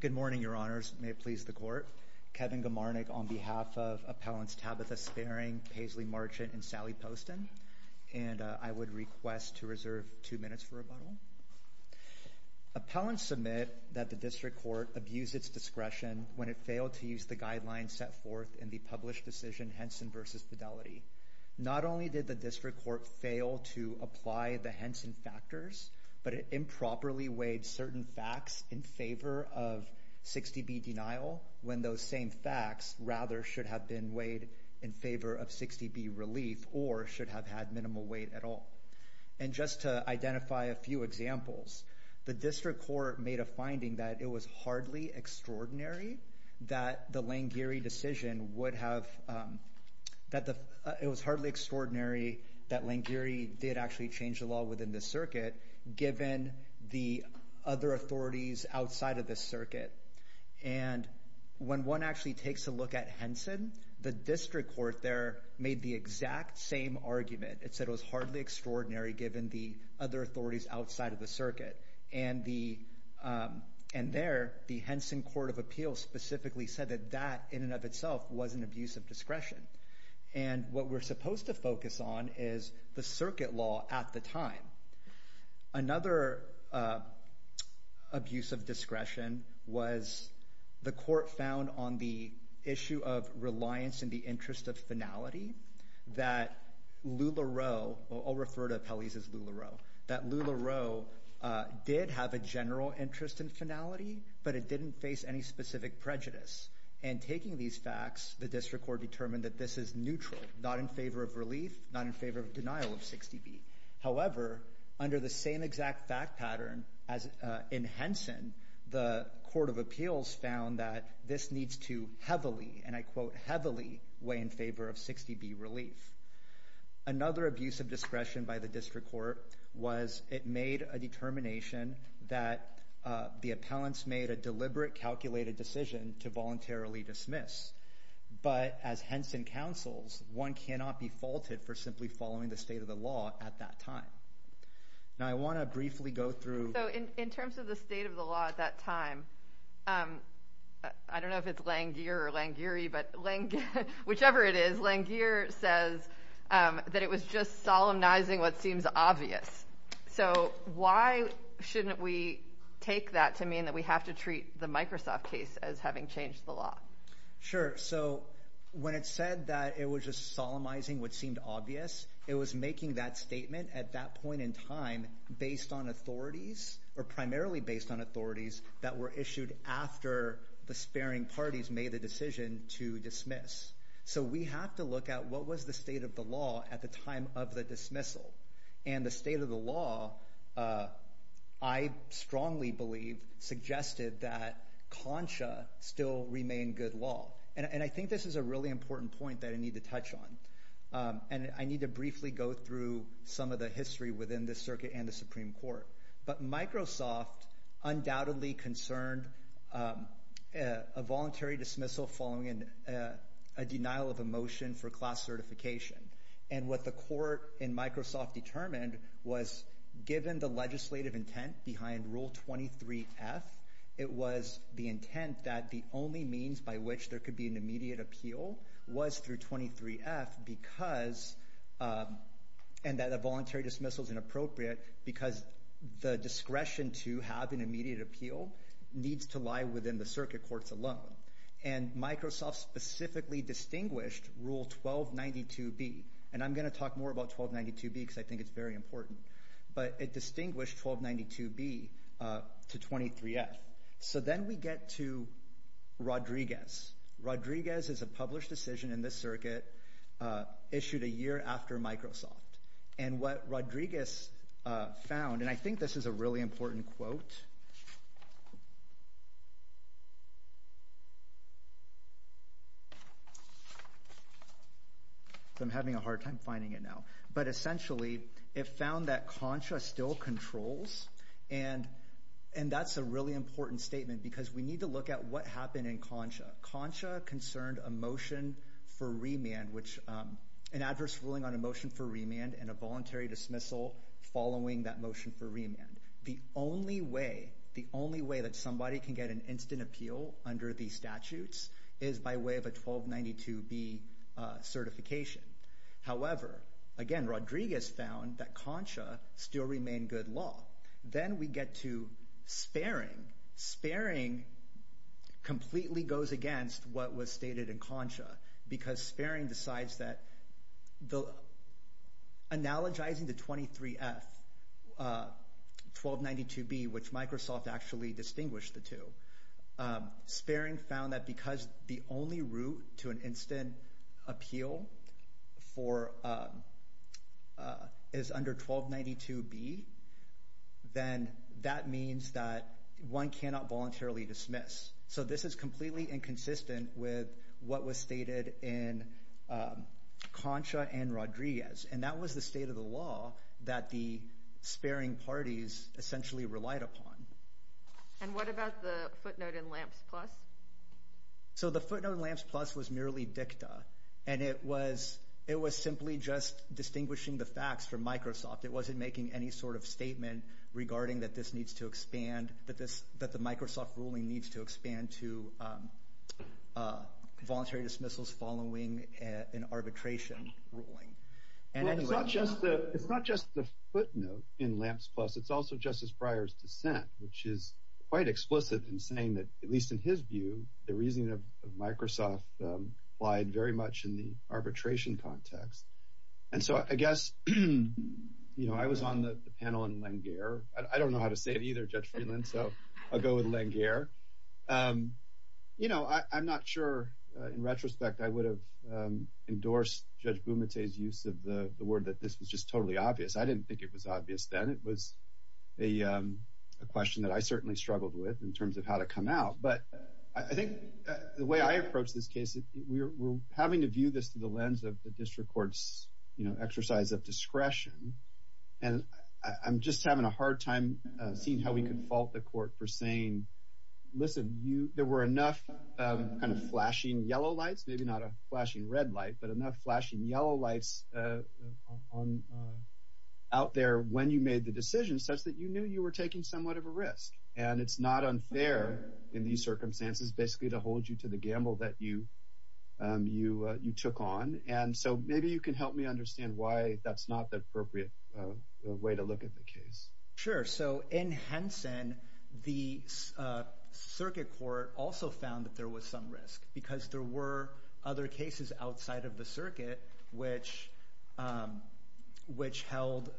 Good morning, Your Honors. May it please the Court. Kevin Gomarnik on behalf of Appellants Tabitha Sperring, Paisley Marchant, and Sally Poston. And I would request to reserve two minutes for rebuttal. Appellants submit that the District Court abused its discretion when it failed to use the guidelines set forth in the published decision, Henson v. Fidelity. Not only did the District Court fail to apply the Henson factors, but it improperly weighed certain facts in favor of 60B denial, when those same facts rather should have been weighed in favor of 60B relief or should have had minimal weight at all. And just to identify a few examples, the District Court made a finding that it was hardly extraordinary that the Langieri decision would have, that it was hardly extraordinary that Langieri did actually change the law within the circuit, given the other authorities outside of the circuit. And when one actually takes a look at Henson, the District Court there made the exact same argument. It said it was hardly extraordinary given the other authorities outside of the circuit. And there, the Henson Court of Appeals specifically said that that in and of itself was an abuse of discretion. And what we're supposed to focus on is the circuit law at the time. Another abuse of discretion was the court found on the issue of reliance in the interest of finality that LuLaRoe, I'll refer to Pelley's as LuLaRoe, that LuLaRoe did have a general interest in finality, but it didn't face any specific prejudice. And taking these facts, the District Court determined that this is neutral, not in favor of relief, not in favor of denial of 60B. However, under the same exact fact pattern in Henson, the Court of Appeals found that this needs to heavily, and I quote, heavily weigh in favor of 60B relief. Another abuse of discretion by the District Court was it made a determination that the appellants made a deliberate calculated decision to voluntarily dismiss. But as Henson counsels, one cannot be faulted for simply following the state of the law at that time. Now I want to briefly go through... So in terms of the state of the law at that time, I don't know if it's Langeer or Langeery, but Langeer, whichever it is, Langeer says that it was just solemnizing what seems obvious. So why shouldn't we take that to mean that we have to treat the Microsoft case as having changed the law? Sure. So when it said that it was just solemnizing what seemed obvious, it was making that statement at that point in time based on authorities, or primarily based on authorities that were issued after the sparing parties made the decision to dismiss. So we have to look at what was the state of the law at the time of the dismissal. And the state of the law, I strongly believe, suggested that CONSHA still remained good law. And I think this is a really important point that I need to touch on. And I need to briefly go through some of the history within this circuit and the Supreme Court. But Microsoft undoubtedly concerned a voluntary dismissal following a denial of a motion for class certification. And what the court in Microsoft determined was given the legislative intent behind Rule 23-F, it was the intent that the only means by which there could be an immediate appeal was through 23-F, and that a voluntary dismissal is inappropriate because the discretion to have an immediate appeal needs to lie within the circuit courts alone. And Microsoft specifically distinguished Rule 1292-B. And I'm going to talk more about 1292-B because I think it's very important. But it distinguished 1292-B to 23-F. So then we get to Rodriguez. Rodriguez is a published decision in this circuit issued a year after Microsoft. And what Rodriguez found, and I think this is a really important quote. I'm having a hard time finding it now. But essentially it found that CONSHA still controls. And that's a really important statement because we need to look at what happened in CONSHA. CONSHA concerned a motion for remand, an adverse ruling on a motion for remand, and a voluntary dismissal following that motion for remand. The only way that somebody can get an instant appeal under these statutes is by way of a 1292-B certification. However, again, Rodriguez found that CONSHA still remained good law. Then we get to sparing. Sparing completely goes against what was stated in CONSHA. Because sparing decides that analogizing the 23-F, 1292-B, which Microsoft actually distinguished the two. Sparing found that because the only route to an instant appeal is under 1292-B, then that means that one cannot voluntarily dismiss. So this is completely inconsistent with what was stated in CONSHA and Rodriguez. And that was the state of the law that the sparing parties essentially relied upon. And what about the footnote in LAMPS Plus? So the footnote in LAMPS Plus was merely dicta. And it was simply just distinguishing the facts from Microsoft. It wasn't making any sort of statement regarding that this needs to expand, that the Microsoft ruling needs to expand to voluntary dismissals following an arbitration ruling. It's not just the footnote in LAMPS Plus. It's also Justice Breyer's dissent, which is quite explicit in saying that, at least in his view, the reasoning of Microsoft applied very much in the arbitration context. And so I guess I was on the panel in Langaire. I don't know how to say it either, Judge Freeland, so I'll go with Langaire. You know, I'm not sure, in retrospect, I would have endorsed Judge Bumate's use of the word that this was just totally obvious. I didn't think it was obvious then. It was a question that I certainly struggled with in terms of how to come out. But I think the way I approach this case, we're having to view this through the lens of the district court's exercise of discretion. And I'm just having a hard time seeing how we can fault the court for saying, listen, there were enough kind of flashing yellow lights, maybe not a flashing red light, but enough flashing yellow lights out there when you made the decision such that you knew you were taking somewhat of a risk. And it's not unfair in these circumstances basically to hold you to the gamble that you took on. And so maybe you can help me understand why that's not the appropriate way to look at the case. Sure. So in Henson, the circuit court also found that there was some risk because there were other cases outside of the circuit, which held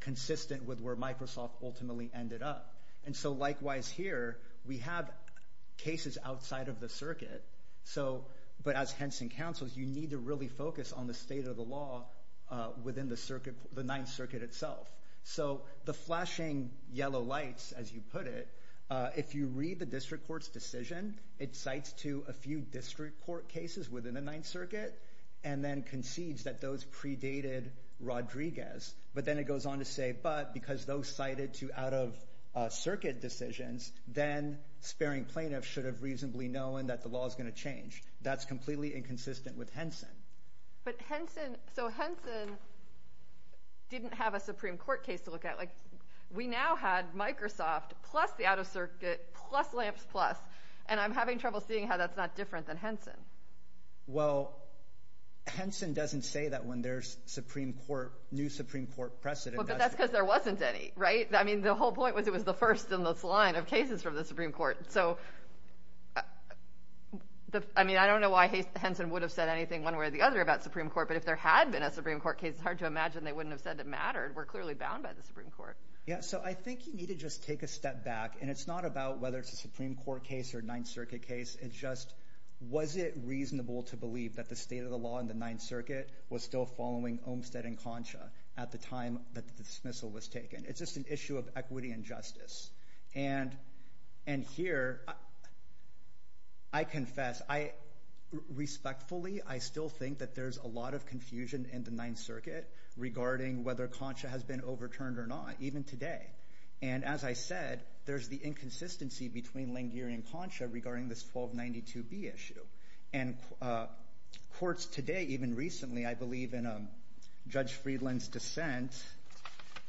consistent with where Microsoft ultimately ended up. And so likewise here, we have cases outside of the circuit. So but as Henson counsels, you need to really focus on the state of the law within the circuit, the Ninth Circuit itself. So the flashing yellow lights, as you put it, if you read the district court's decision, it cites to a few district court cases within the Ninth Circuit and then concedes that those predated Rodriguez. But then it goes on to say, but because those cited to out of circuit decisions, then sparing plaintiffs should have reasonably known that the law is going to change. That's completely inconsistent with Henson. But Henson, so Henson didn't have a Supreme Court case to look at. We now had Microsoft plus the out of circuit plus Lamps Plus. And I'm having trouble seeing how that's not different than Henson. Well, Henson doesn't say that when there's Supreme Court, new Supreme Court precedent. But that's because there wasn't any, right? I mean, the whole point was it was the first in this line of cases from the Supreme Court. So, I mean, I don't know why Henson would have said anything one way or the other about Supreme Court. But if there had been a Supreme Court case, it's hard to imagine they wouldn't have said it mattered. We're clearly bound by the Supreme Court. Yeah. So I think you need to just take a step back. And it's not about whether it's a Supreme Court case or Ninth Circuit case. It's just was it reasonable to believe that the state of the law in the Ninth Circuit was still following Olmstead and Concha at the time that the dismissal was taken? It's just an issue of equity and justice. And here, I confess, I respectfully, I still think that there's a lot of confusion in the Ninth Circuit regarding whether Concha has been overturned or not, even today. And as I said, there's the inconsistency between Langier and Concha regarding this 1292B issue. And courts today, even recently, I believe in Judge Friedland's dissent.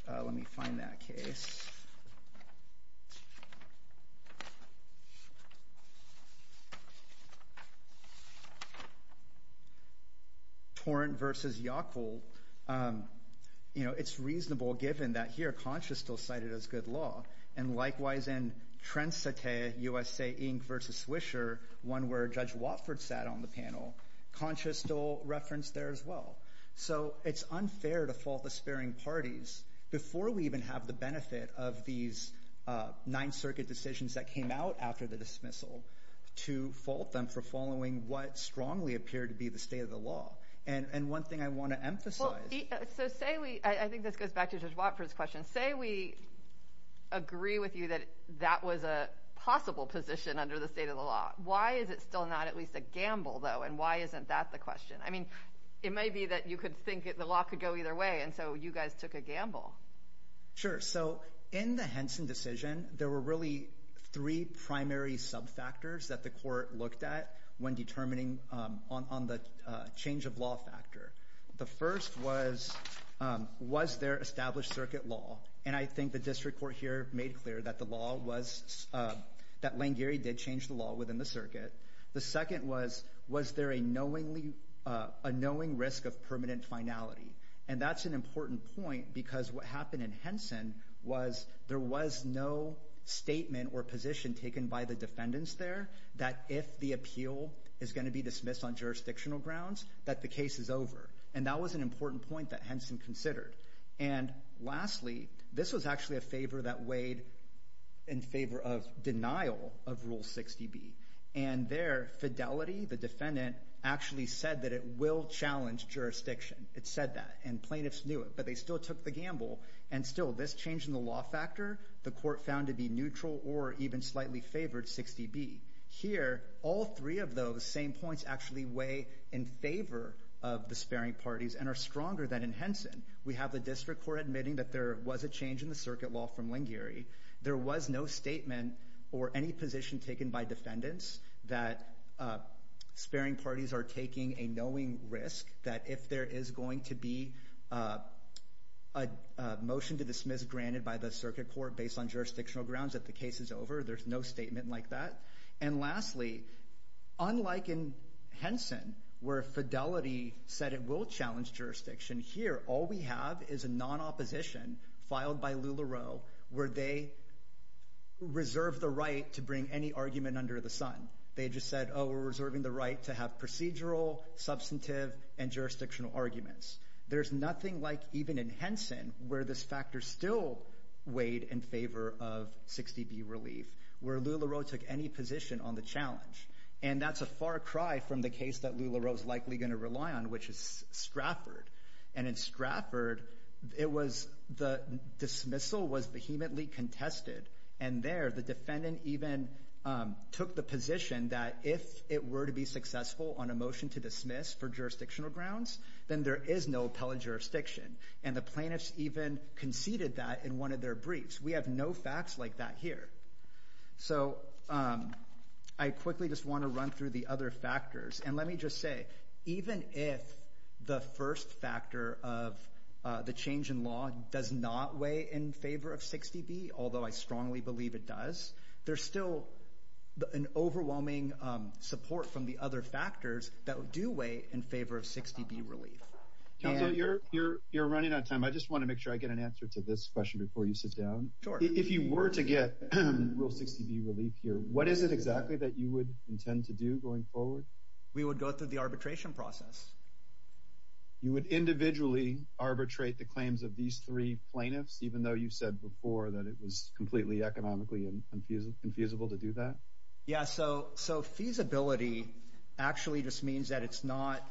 Let me find that case. Torrent v. Yockle. You know, it's reasonable given that here Concha is still cited as good law. And likewise in Trensate USA, Inc. v. Swisher, one where Judge Watford sat on the panel, Concha is still referenced there as well. So it's unfair to fault the sparing parties before we even have the benefit of these Ninth Circuit decisions that came out after the dismissal to fault them for following what strongly appeared to be the state of the law. And one thing I want to emphasize. I think this goes back to Judge Watford's question. Say we agree with you that that was a possible position under the state of the law. Why is it still not at least a gamble, though? And why isn't that the question? I mean, it may be that you could think the law could go either way. And so you guys took a gamble. Sure. So in the Henson decision, there were really three primary subfactors that the court looked at when determining on the change of law factor. The first was, was there established circuit law? And I think the district court here made clear that the law was – that Langieri did change the law within the circuit. The second was, was there a knowingly – a knowing risk of permanent finality? And that's an important point because what happened in Henson was there was no statement or position taken by the defendants there that if the appeal is going to be dismissed on jurisdictional grounds, that the case is over. And that was an important point that Henson considered. And lastly, this was actually a favor that weighed in favor of denial of Rule 60B. And their fidelity, the defendant, actually said that it will challenge jurisdiction. It said that. And plaintiffs knew it, but they still took the gamble. And still, this change in the law factor, the court found to be neutral or even slightly favored 60B. Here, all three of those same points actually weigh in favor of the sparing parties and are stronger than in Henson. We have the district court admitting that there was a change in the circuit law from Langieri. There was no statement or any position taken by defendants that sparing parties are taking a knowing risk that if there is going to be a motion to dismiss granted by the circuit court based on jurisdictional grounds, that the case is over. There's no statement like that. And lastly, unlike in Henson where fidelity said it will challenge jurisdiction, here all we have is a non-opposition filed by LuLaRoe where they reserve the right to bring any argument under the sun. They just said, oh, we're reserving the right to have procedural, substantive, and jurisdictional arguments. There's nothing like even in Henson where this factor still weighed in favor of 60B relief, where LuLaRoe took any position on the challenge. And that's a far cry from the case that LuLaRoe is likely going to rely on, which is Stratford. And in Stratford, the dismissal was vehemently contested. And there the defendant even took the position that if it were to be successful on a motion to dismiss for jurisdictional grounds, then there is no appellate jurisdiction. And the plaintiffs even conceded that in one of their briefs. We have no facts like that here. So I quickly just want to run through the other factors. And let me just say, even if the first factor of the change in law does not weigh in favor of 60B, although I strongly believe it does, there's still an overwhelming support from the other factors that do weigh in favor of 60B relief. You're running out of time. I just want to make sure I get an answer to this question before you sit down. If you were to get Rule 60B relief here, what is it exactly that you would intend to do going forward? We would go through the arbitration process. You would individually arbitrate the claims of these three plaintiffs, even though you said before that it was completely economically infeasible to do that? Yeah, so feasibility actually just means that it's not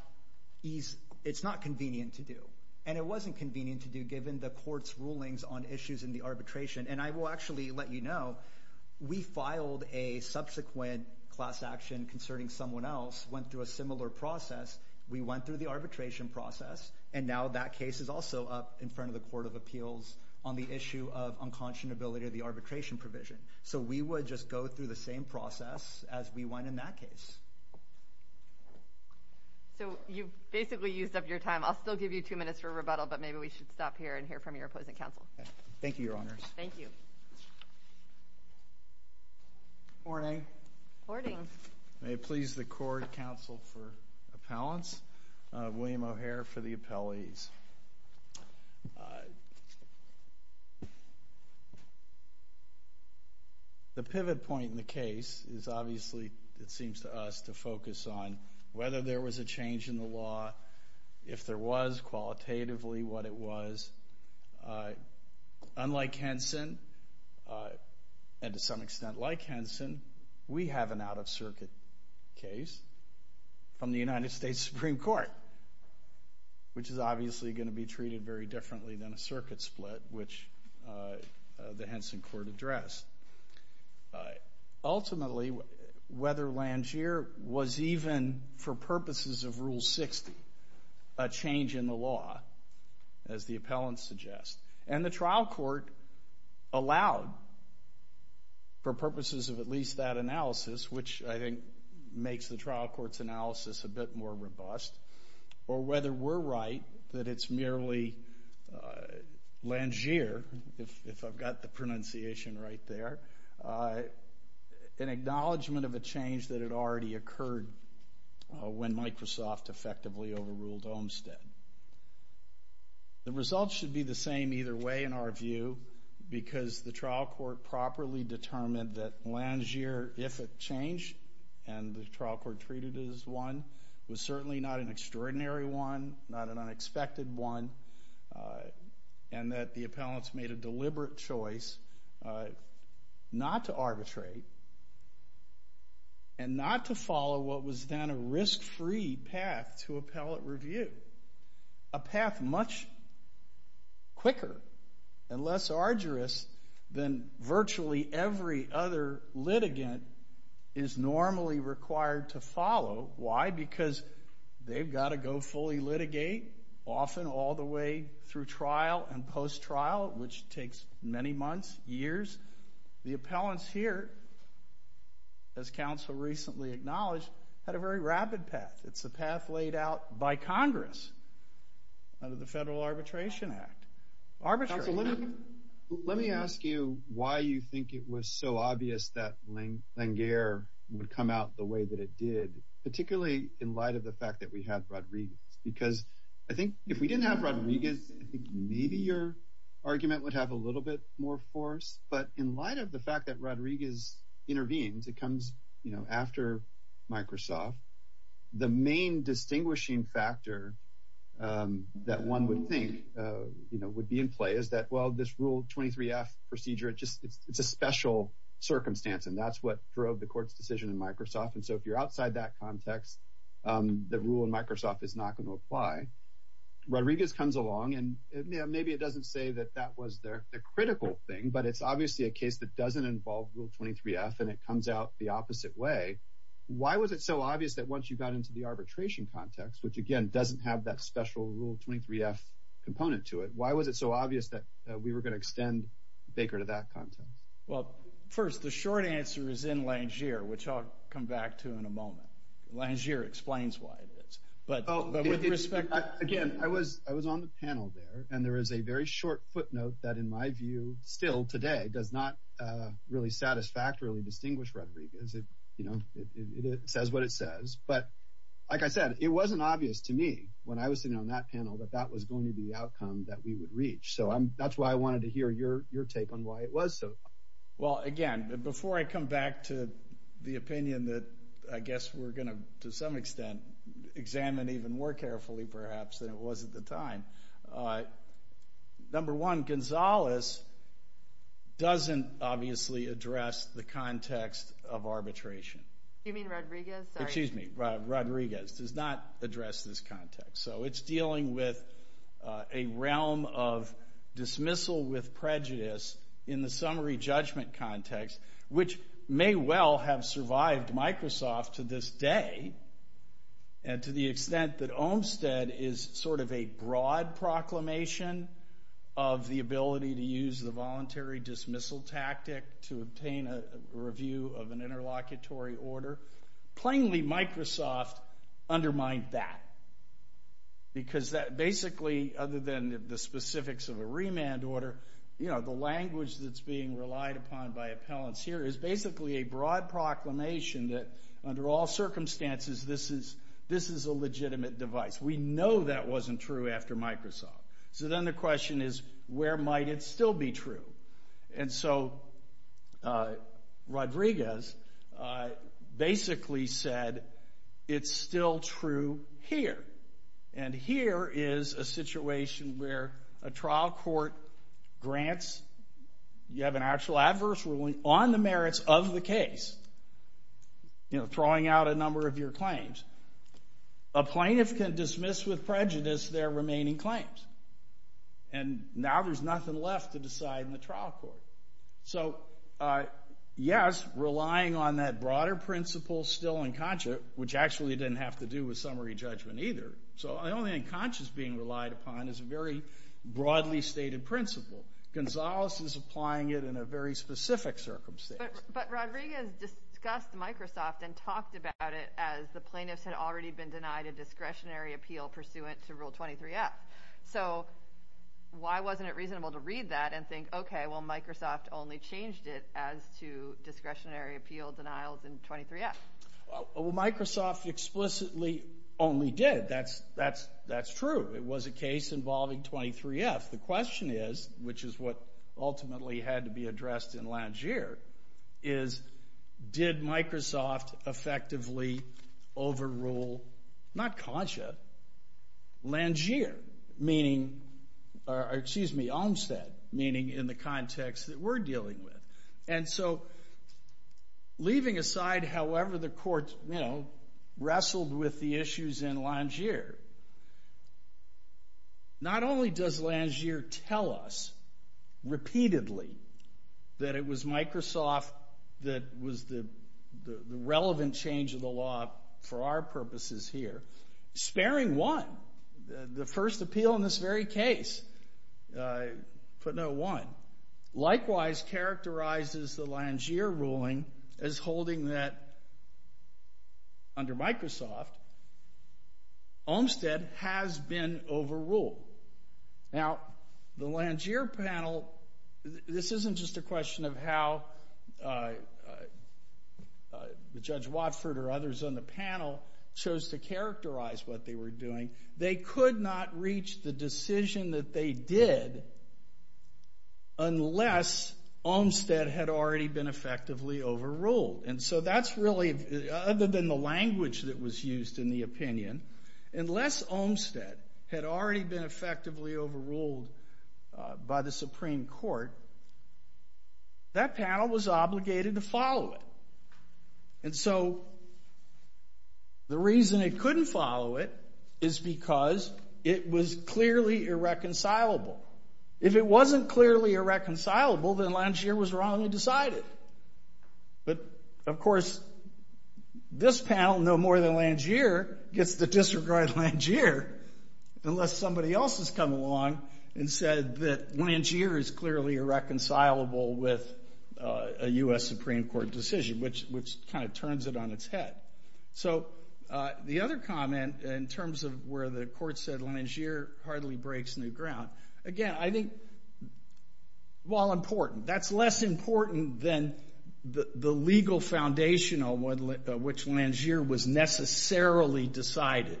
convenient to do. And it wasn't convenient to do given the court's rulings on issues in the arbitration. And I will actually let you know, we filed a subsequent class action concerning someone else, went through a similar process. We went through the arbitration process, and now that case is also up in front of the Court of Appeals on the issue of unconscionability of the arbitration provision. So we would just go through the same process as we went in that case. So you've basically used up your time. I'll still give you two minutes for rebuttal, but maybe we should stop here and hear from your opposing counsel. Thank you, Your Honors. Thank you. Morning. Morning. May it please the court, counsel for appellants, William O'Hare for the appellees. The pivot point in the case is obviously, it seems to us, to focus on whether there was a change in the law, if there was qualitatively what it was. Unlike Henson, and to some extent like Henson, we have an out-of-circuit case from the United States Supreme Court, which is obviously going to be treated very differently than a circuit split, which the Henson court addressed. Ultimately, whether Langier was even, for purposes of Rule 60, a change in the law, as the appellants suggest. And the trial court allowed, for purposes of at least that analysis, which I think makes the trial court's analysis a bit more robust, or whether we're right that it's merely Langier, if I've got the pronunciation right there, an acknowledgment of a change that had already occurred when Microsoft effectively overruled Olmstead. The results should be the same either way, in our view, because the trial court properly determined that Langier, if it changed and the trial court treated it as one, was certainly not an extraordinary one, not an unexpected one, and that the appellants made a deliberate choice not to arbitrate and not to follow what was then a risk-free path to appellate review, a path much quicker and less arduous than virtually every other litigant is normally required to follow. Why? Because they've got to go fully litigate, often all the way through trial and post-trial, which takes many months, years. The appellants here, as counsel recently acknowledged, had a very rapid path. It's a path laid out by Congress under the Federal Arbitration Act. Counsel, let me ask you why you think it was so obvious that Langier would come out the way that it did, particularly in light of the fact that we had Rodriguez, because I think if we didn't have Rodriguez, I think maybe your argument would have a little bit more force. But in light of the fact that Rodriguez intervened, it comes after Microsoft, the main distinguishing factor that one would think would be in play is that, well, this Rule 23F procedure, it's a special circumstance, and that's what drove the court's decision in Microsoft. And so if you're outside that context, the rule in Microsoft is not going to apply. Rodriguez comes along, and maybe it doesn't say that that was the critical thing, but it's obviously a case that doesn't involve Rule 23F, and it comes out the opposite way. Why was it so obvious that once you got into the arbitration context, which, again, doesn't have that special Rule 23F component to it, why was it so obvious that we were going to extend Baker to that context? Well, first, the short answer is in Langier, which I'll come back to in a moment. Langier explains why it is. Again, I was on the panel there, and there is a very short footnote that, in my view, still today, does not really satisfactorily distinguish Rodriguez. It says what it says. But like I said, it wasn't obvious to me when I was sitting on that panel that that was going to be the outcome that we would reach. So that's why I wanted to hear your take on why it was so obvious. Well, again, before I come back to the opinion that I guess we're going to, to some extent, examine even more carefully, perhaps, than it was at the time, number one, Gonzales doesn't obviously address the context of arbitration. You mean Rodriguez? Excuse me, Rodriguez does not address this context. So it's dealing with a realm of dismissal with prejudice in the summary judgment context, which may well have survived Microsoft to this day, to the extent that Olmstead is sort of a broad proclamation of the ability to use the voluntary dismissal tactic to obtain a review of an interlocutory order. Plainly, Microsoft undermined that. Because that basically, other than the specifics of a remand order, the language that's being relied upon by appellants here is basically a broad proclamation that, under all circumstances, this is a legitimate device. We know that wasn't true after Microsoft. So then the question is, where might it still be true? And so Rodriguez basically said, it's still true here. And here is a situation where a trial court grants, you have an actual adverse ruling on the merits of the case, you know, throwing out a number of your claims. A plaintiff can dismiss with prejudice their remaining claims. And now there's nothing left to decide in the trial court. So, yes, relying on that broader principle, still unconscious, which actually didn't have to do with summary judgment either. So the only unconscious being relied upon is a very broadly stated principle. Gonzales is applying it in a very specific circumstance. But Rodriguez discussed Microsoft and talked about it as the plaintiffs had already been denied a discretionary appeal pursuant to Rule 23F. So why wasn't it reasonable to read that and think, okay, well, Microsoft only changed it as to discretionary appeal denials in 23F? Well, Microsoft explicitly only did. That's true. It was a case involving 23F. The question is, which is what ultimately had to be addressed in Langier, is did Microsoft effectively overrule, not Concha, Langier, meaning, or excuse me, Olmstead, meaning in the context that we're dealing with. And so leaving aside however the court, you know, wrestled with the issues in Langier, not only does Langier tell us repeatedly that it was Microsoft that was the relevant change of the law for our purposes here, sparing one, the first appeal in this very case, put no one, likewise characterizes the Langier ruling as holding that under Microsoft Olmstead has been overruled. Now, the Langier panel, this isn't just a question of how the Judge Watford or others on the panel chose to characterize what they were doing. They could not reach the decision that they did unless Olmstead had already been effectively overruled by the Supreme Court. That panel was obligated to follow it. And so the reason it couldn't follow it is because it was clearly irreconcilable. If it wasn't clearly irreconcilable, then Langier was wrong to decide it. But of course, this panel, no more than Langier, gets to disregard Langier unless somebody else has come along and said that Langier is clearly irreconcilable with a U.S. Supreme Court decision, which kind of turns it on its head. So the other comment in terms of where the court said Langier hardly breaks new ground, again, I think, while important, that's less important than the legal foundation on which Langier was necessarily decided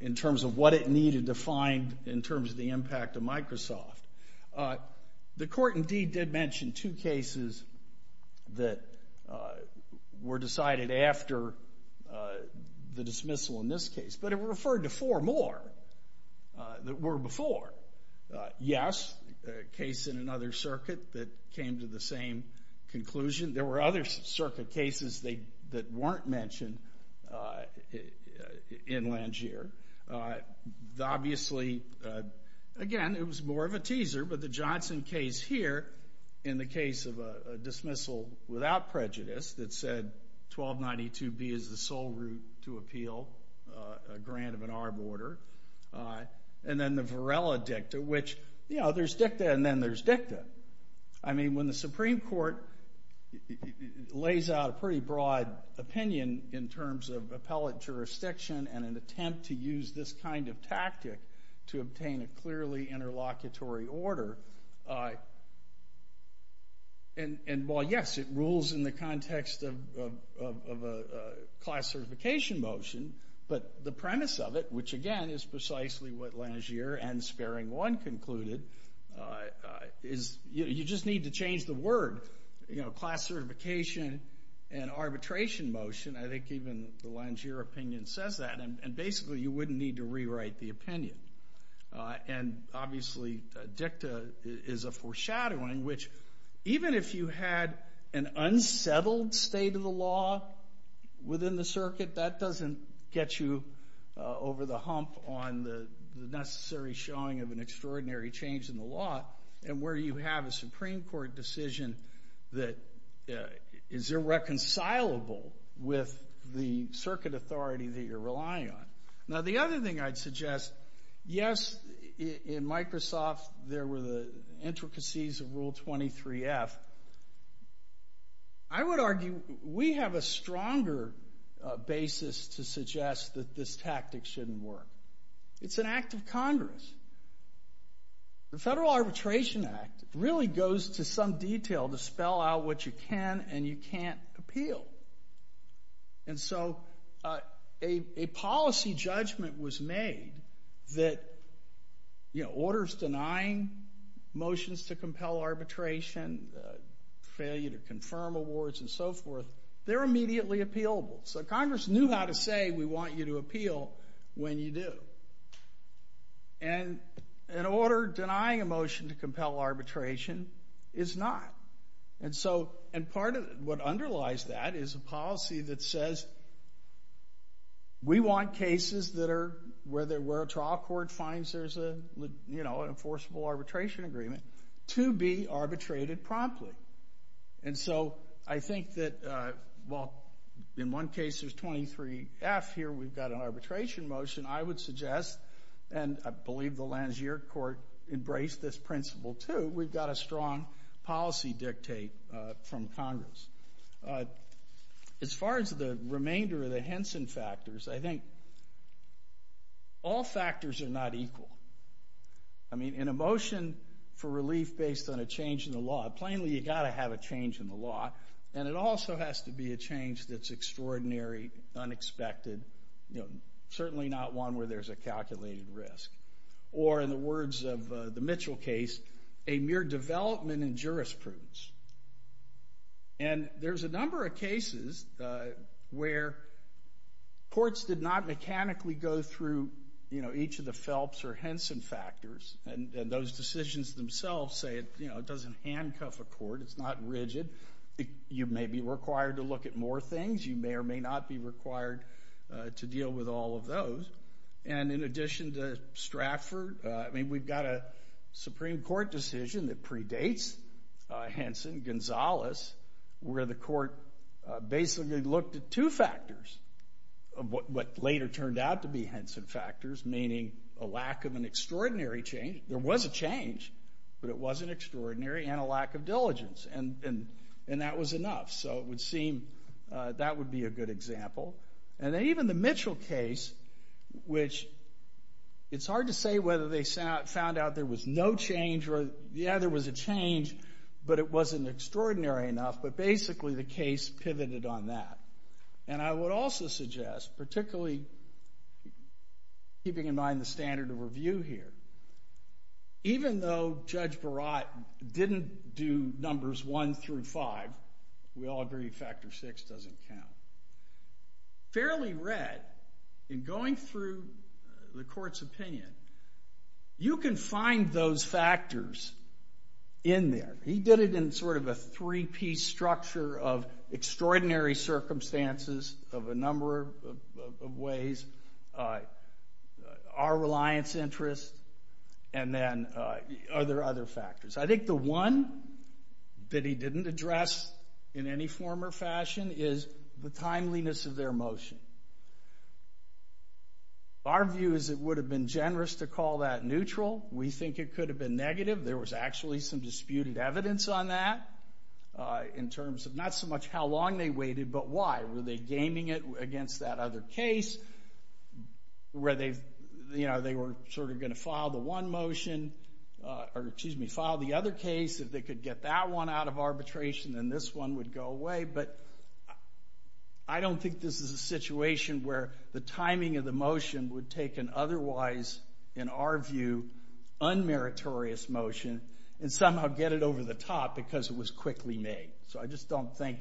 in terms of what it needed to find in terms of the impact of Microsoft. The court indeed did mention two cases that were decided after the dismissal in this case, but it referred to four more that were before. Yes, a case in another circuit that came to the same conclusion. There were other circuit cases that weren't mentioned in Langier. Obviously, again, it was more of a teaser, but the Johnson case here in the case of a dismissal without prejudice that said 1292B is the sole route to appeal a grant of an arb order, and then the Varela dicta, which, you know, there's dicta and then there's dicta. I mean, when the Supreme Court lays out a pretty broad opinion in terms of appellate jurisdiction and an attempt to use this kind of tactic to obtain a clearly interlocutory order, and while, yes, it rules in the context of a class certification motion, but the premise of it, which, again, is precisely what Langier and Sparing One concluded, is you just need to change the word, you know, class certification and arbitration motion. I think even the Langier opinion says that, and basically you wouldn't need to rewrite the opinion. And obviously dicta is a foreshadowing, which even if you had an unsettled state of the law within the circuit, that doesn't get you over the hump on the necessary showing of an extraordinary change in the law, and where you have a Supreme Court decision that is irreconcilable with the circuit authority that you're relying on. Now, the other thing I'd suggest, yes, in Microsoft there were the intricacies of Rule 23F. I would argue we have a stronger basis to suggest that this tactic shouldn't work. It's an act of Congress. The Federal Arbitration Act really goes to some detail to spell out what you can and you can't appeal. And so a policy judgment was made that, you know, orders denying motions to compel arbitration, failure to confirm awards and so forth, they're immediately appealable. So Congress knew how to say, we want you to appeal when you do. And an order denying a motion to compel arbitration is not. And part of what underlies that is a policy that says, we want cases that are, where a trial court finds there's a, you know, an enforceable arbitration agreement, to be arbitrated promptly. And so I think that, well, in one case there's 23F here, we've got an arbitration motion, I would suggest, and I believe the Langier Court embraced this principle too, we've got a strong policy dictate from Congress. As far as the remainder of the Henson factors, I think all factors are not equal. I mean, in a motion for relief based on a change in the law, plainly you've got to have a change in the law. And it also has to be a change that's extraordinary, unexpected, you know, certainly not one where there's a calculated risk. Or in the words of the Mitchell case, a mere development in jurisprudence. And there's a number of cases where courts did not mechanically go through, you know, each of the Phelps or Henson factors, and those decisions themselves say, you know, it doesn't handcuff a court, it's not rigid. You may be required to look at more things, you may or may not be required to deal with all of those. And in addition to Stratford, I mean, we've got a Supreme Court decision that predates Henson, Gonzales, where the court basically looked at two factors, what later turned out to be Henson factors, meaning a lack of an extraordinary change. There was a change, but it wasn't extraordinary, and a lack of diligence. And that was enough. So it would seem that would be a good example. And then even the Mitchell case, which it's hard to say whether they found out there was no change or, yeah, there was a change, but it wasn't extraordinary enough, but basically the case pivoted on that. And I would also suggest, particularly keeping in mind the standard of review here, even though Judge Barat didn't do numbers one through five, we all agree factor six doesn't count, fairly red, in going through the court's opinion, you can find those factors in there. He did it in sort of a three-piece structure of extraordinary circumstances of a number of ways, our reliance interest, and then other factors. I think the one that he didn't address in any form or fashion is the timeliness of their motion. Our view is it would have been generous to call that neutral. We think it could have been negative. There was actually some disputed evidence on that in terms of not so much how long they waited, but why. Were they gaming it against that other case, where they were sort of going to file the one motion, or excuse me, file the other case. If they could get that one out of arbitration, then this one would go away. But I don't think this is a situation where the timing of the motion would take an otherwise, in our view, unmeritorious motion and somehow get it over the top because it was quickly made. I just don't think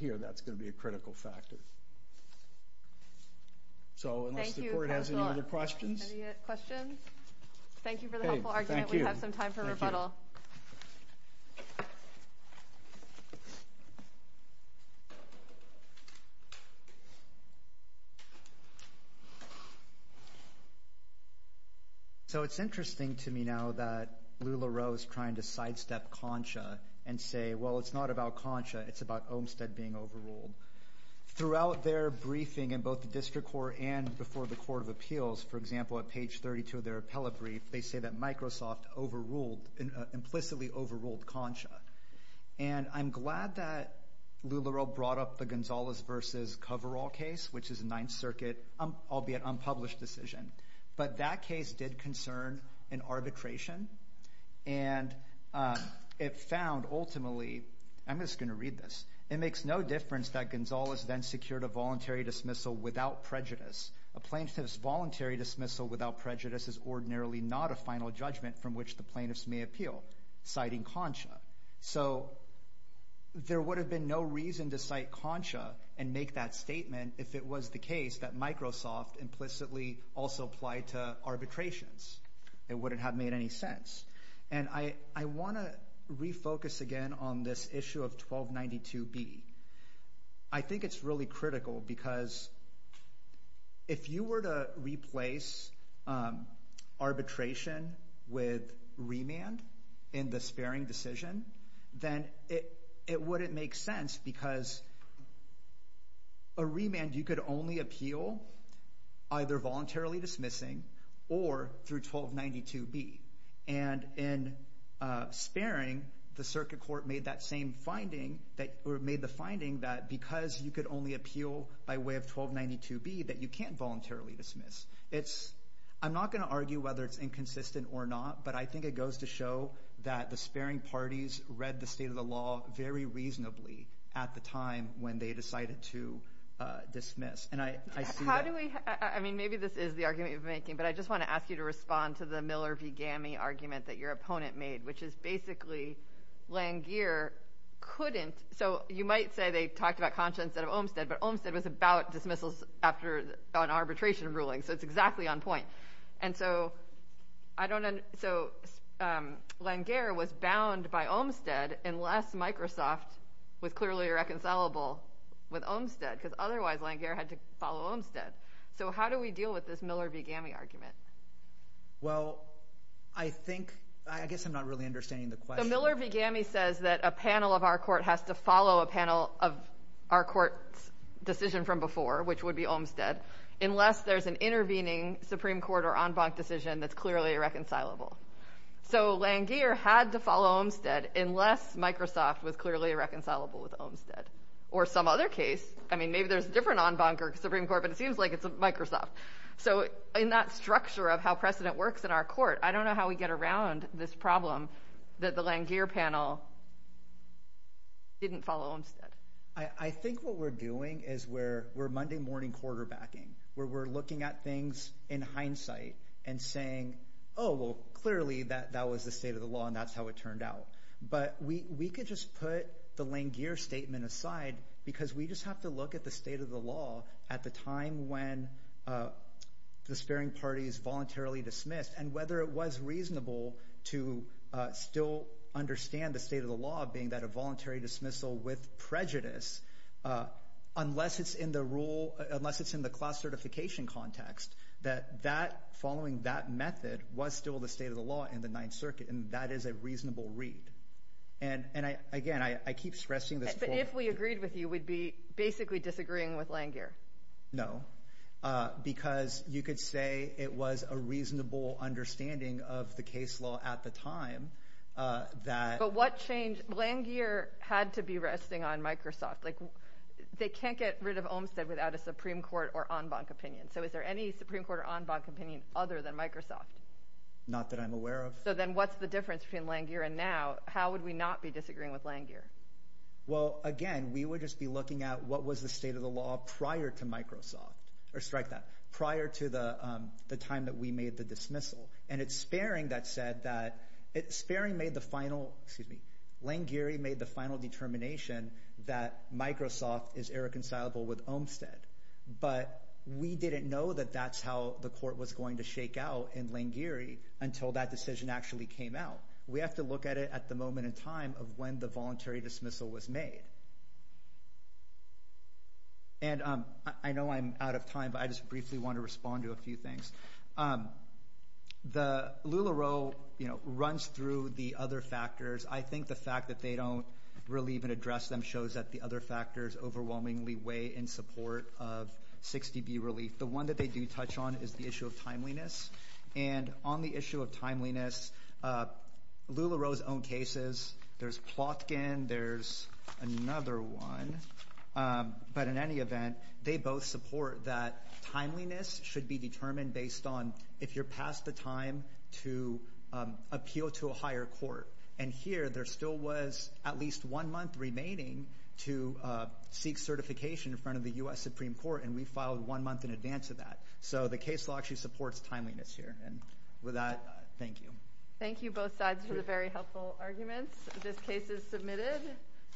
here that's going to be a critical factor. Unless the court has any other questions. Any questions? Thank you for the helpful argument. We have some time for rebuttal. So it's interesting to me now that Lula Roe is trying to sidestep Concha and say, well, it's not about Concha, it's about Olmstead being overruled. Throughout their briefing in both the District Court and before the Court of Appeals, for example, at page 32 of their appellate brief, they say that Microsoft overruled, implicitly overruled Concha. And I'm glad that Lula Roe brought up the Gonzales versus Coverall case, which is a Ninth Circuit, albeit unpublished, decision. But that case did concern an arbitration. And it found, ultimately, I'm just going to read this. It makes no difference that Gonzales then secured a voluntary dismissal without prejudice. A plaintiff's voluntary dismissal without prejudice is ordinarily not a final judgment from which the plaintiffs may appeal, citing Concha. So there would have been no reason to cite Concha and make that statement if it was the case that Microsoft implicitly also applied to arbitrations. It wouldn't have made any sense. And I want to refocus again on this issue of 1292B. I think it's really critical because if you were to replace arbitration with remand in the sparing decision, then it wouldn't make sense because a remand you could only appeal either voluntarily dismissing or through 1292B. And in sparing, the Circuit Court made that same finding, or made the finding that because you could only appeal by way of 1292B that you can't voluntarily dismiss. I'm not going to argue whether it's inconsistent or not, but I think it goes to show that the sparing parties read the state of the law very reasonably at the time when they decided to dismiss. And I see that. How do we – I mean, maybe this is the argument you're making, but I just want to ask you to respond to the Miller v. Gammey argument that your opponent made, which is basically Langear couldn't – so you might say they talked about Concha instead of Olmstead, but Olmstead was about dismissals after an arbitration ruling, so it's exactly on point. And so I don't – so Langear was bound by Olmstead unless Microsoft was clearly reconcilable with Olmstead because otherwise Langear had to follow Olmstead. So how do we deal with this Miller v. Gammey argument? Well, I think – I guess I'm not really understanding the question. The Miller v. Gammey says that a panel of our court has to follow a panel of our court's decision from before, which would be Olmstead, unless there's an intervening Supreme Court or en banc decision that's clearly reconcilable. So Langear had to follow Olmstead unless Microsoft was clearly reconcilable with Olmstead or some other case. I mean, maybe there's a different en banc or Supreme Court, but it seems like it's Microsoft. So in that structure of how precedent works in our court, I don't know how we get around this problem that the Langear panel didn't follow Olmstead. I think what we're doing is we're Monday morning quarterbacking where we're looking at things in hindsight and saying, oh, well, clearly that was the state of the law and that's how it turned out. But we could just put the Langear statement aside because we just have to look at the state of the law at the time when the sparing party is voluntarily dismissed and whether it was reasonable to still understand the state of the law being that a voluntary dismissal with prejudice, unless it's in the rule, unless it's in the class certification context, that that following that method was still the state of the law in the Ninth Circuit. And that is a reasonable read. And again, I keep stressing this. But if we agreed with you, we'd be basically disagreeing with Langear. No, because you could say it was a reasonable understanding of the case law at the time that. But what changed? Langear had to be resting on Microsoft. Like they can't get rid of Olmstead without a Supreme Court or en banc opinion. So is there any Supreme Court or en banc opinion other than Microsoft? Not that I'm aware of. So then what's the difference between Langear and now? How would we not be disagreeing with Langear? Well, again, we would just be looking at what was the state of the law prior to Microsoft or strike that prior to the time that we made the dismissal. And it's sparing that said that it's sparing made the final excuse me. Langear made the final determination that Microsoft is irreconcilable with Olmstead. But we didn't know that that's how the court was going to shake out in Langear until that decision actually came out. We have to look at it at the moment in time of when the voluntary dismissal was made. And I know I'm out of time, but I just briefly want to respond to a few things. The Lula role runs through the other factors. I think the fact that they don't really even address them shows that the other factors overwhelmingly weigh in support of 60 B relief. The one that they do touch on is the issue of timeliness. And on the issue of timeliness, Lula Rose own cases. There's Plotkin. There's another one. But in any event, they both support that timeliness should be determined based on if you're past the time to appeal to a higher court. And here there still was at least one month remaining to seek certification in front of the U.S. Supreme Court. And we filed one month in advance of that. So the case law actually supports timeliness here. And with that, thank you. Thank you both sides for the very helpful arguments. This case is submitted.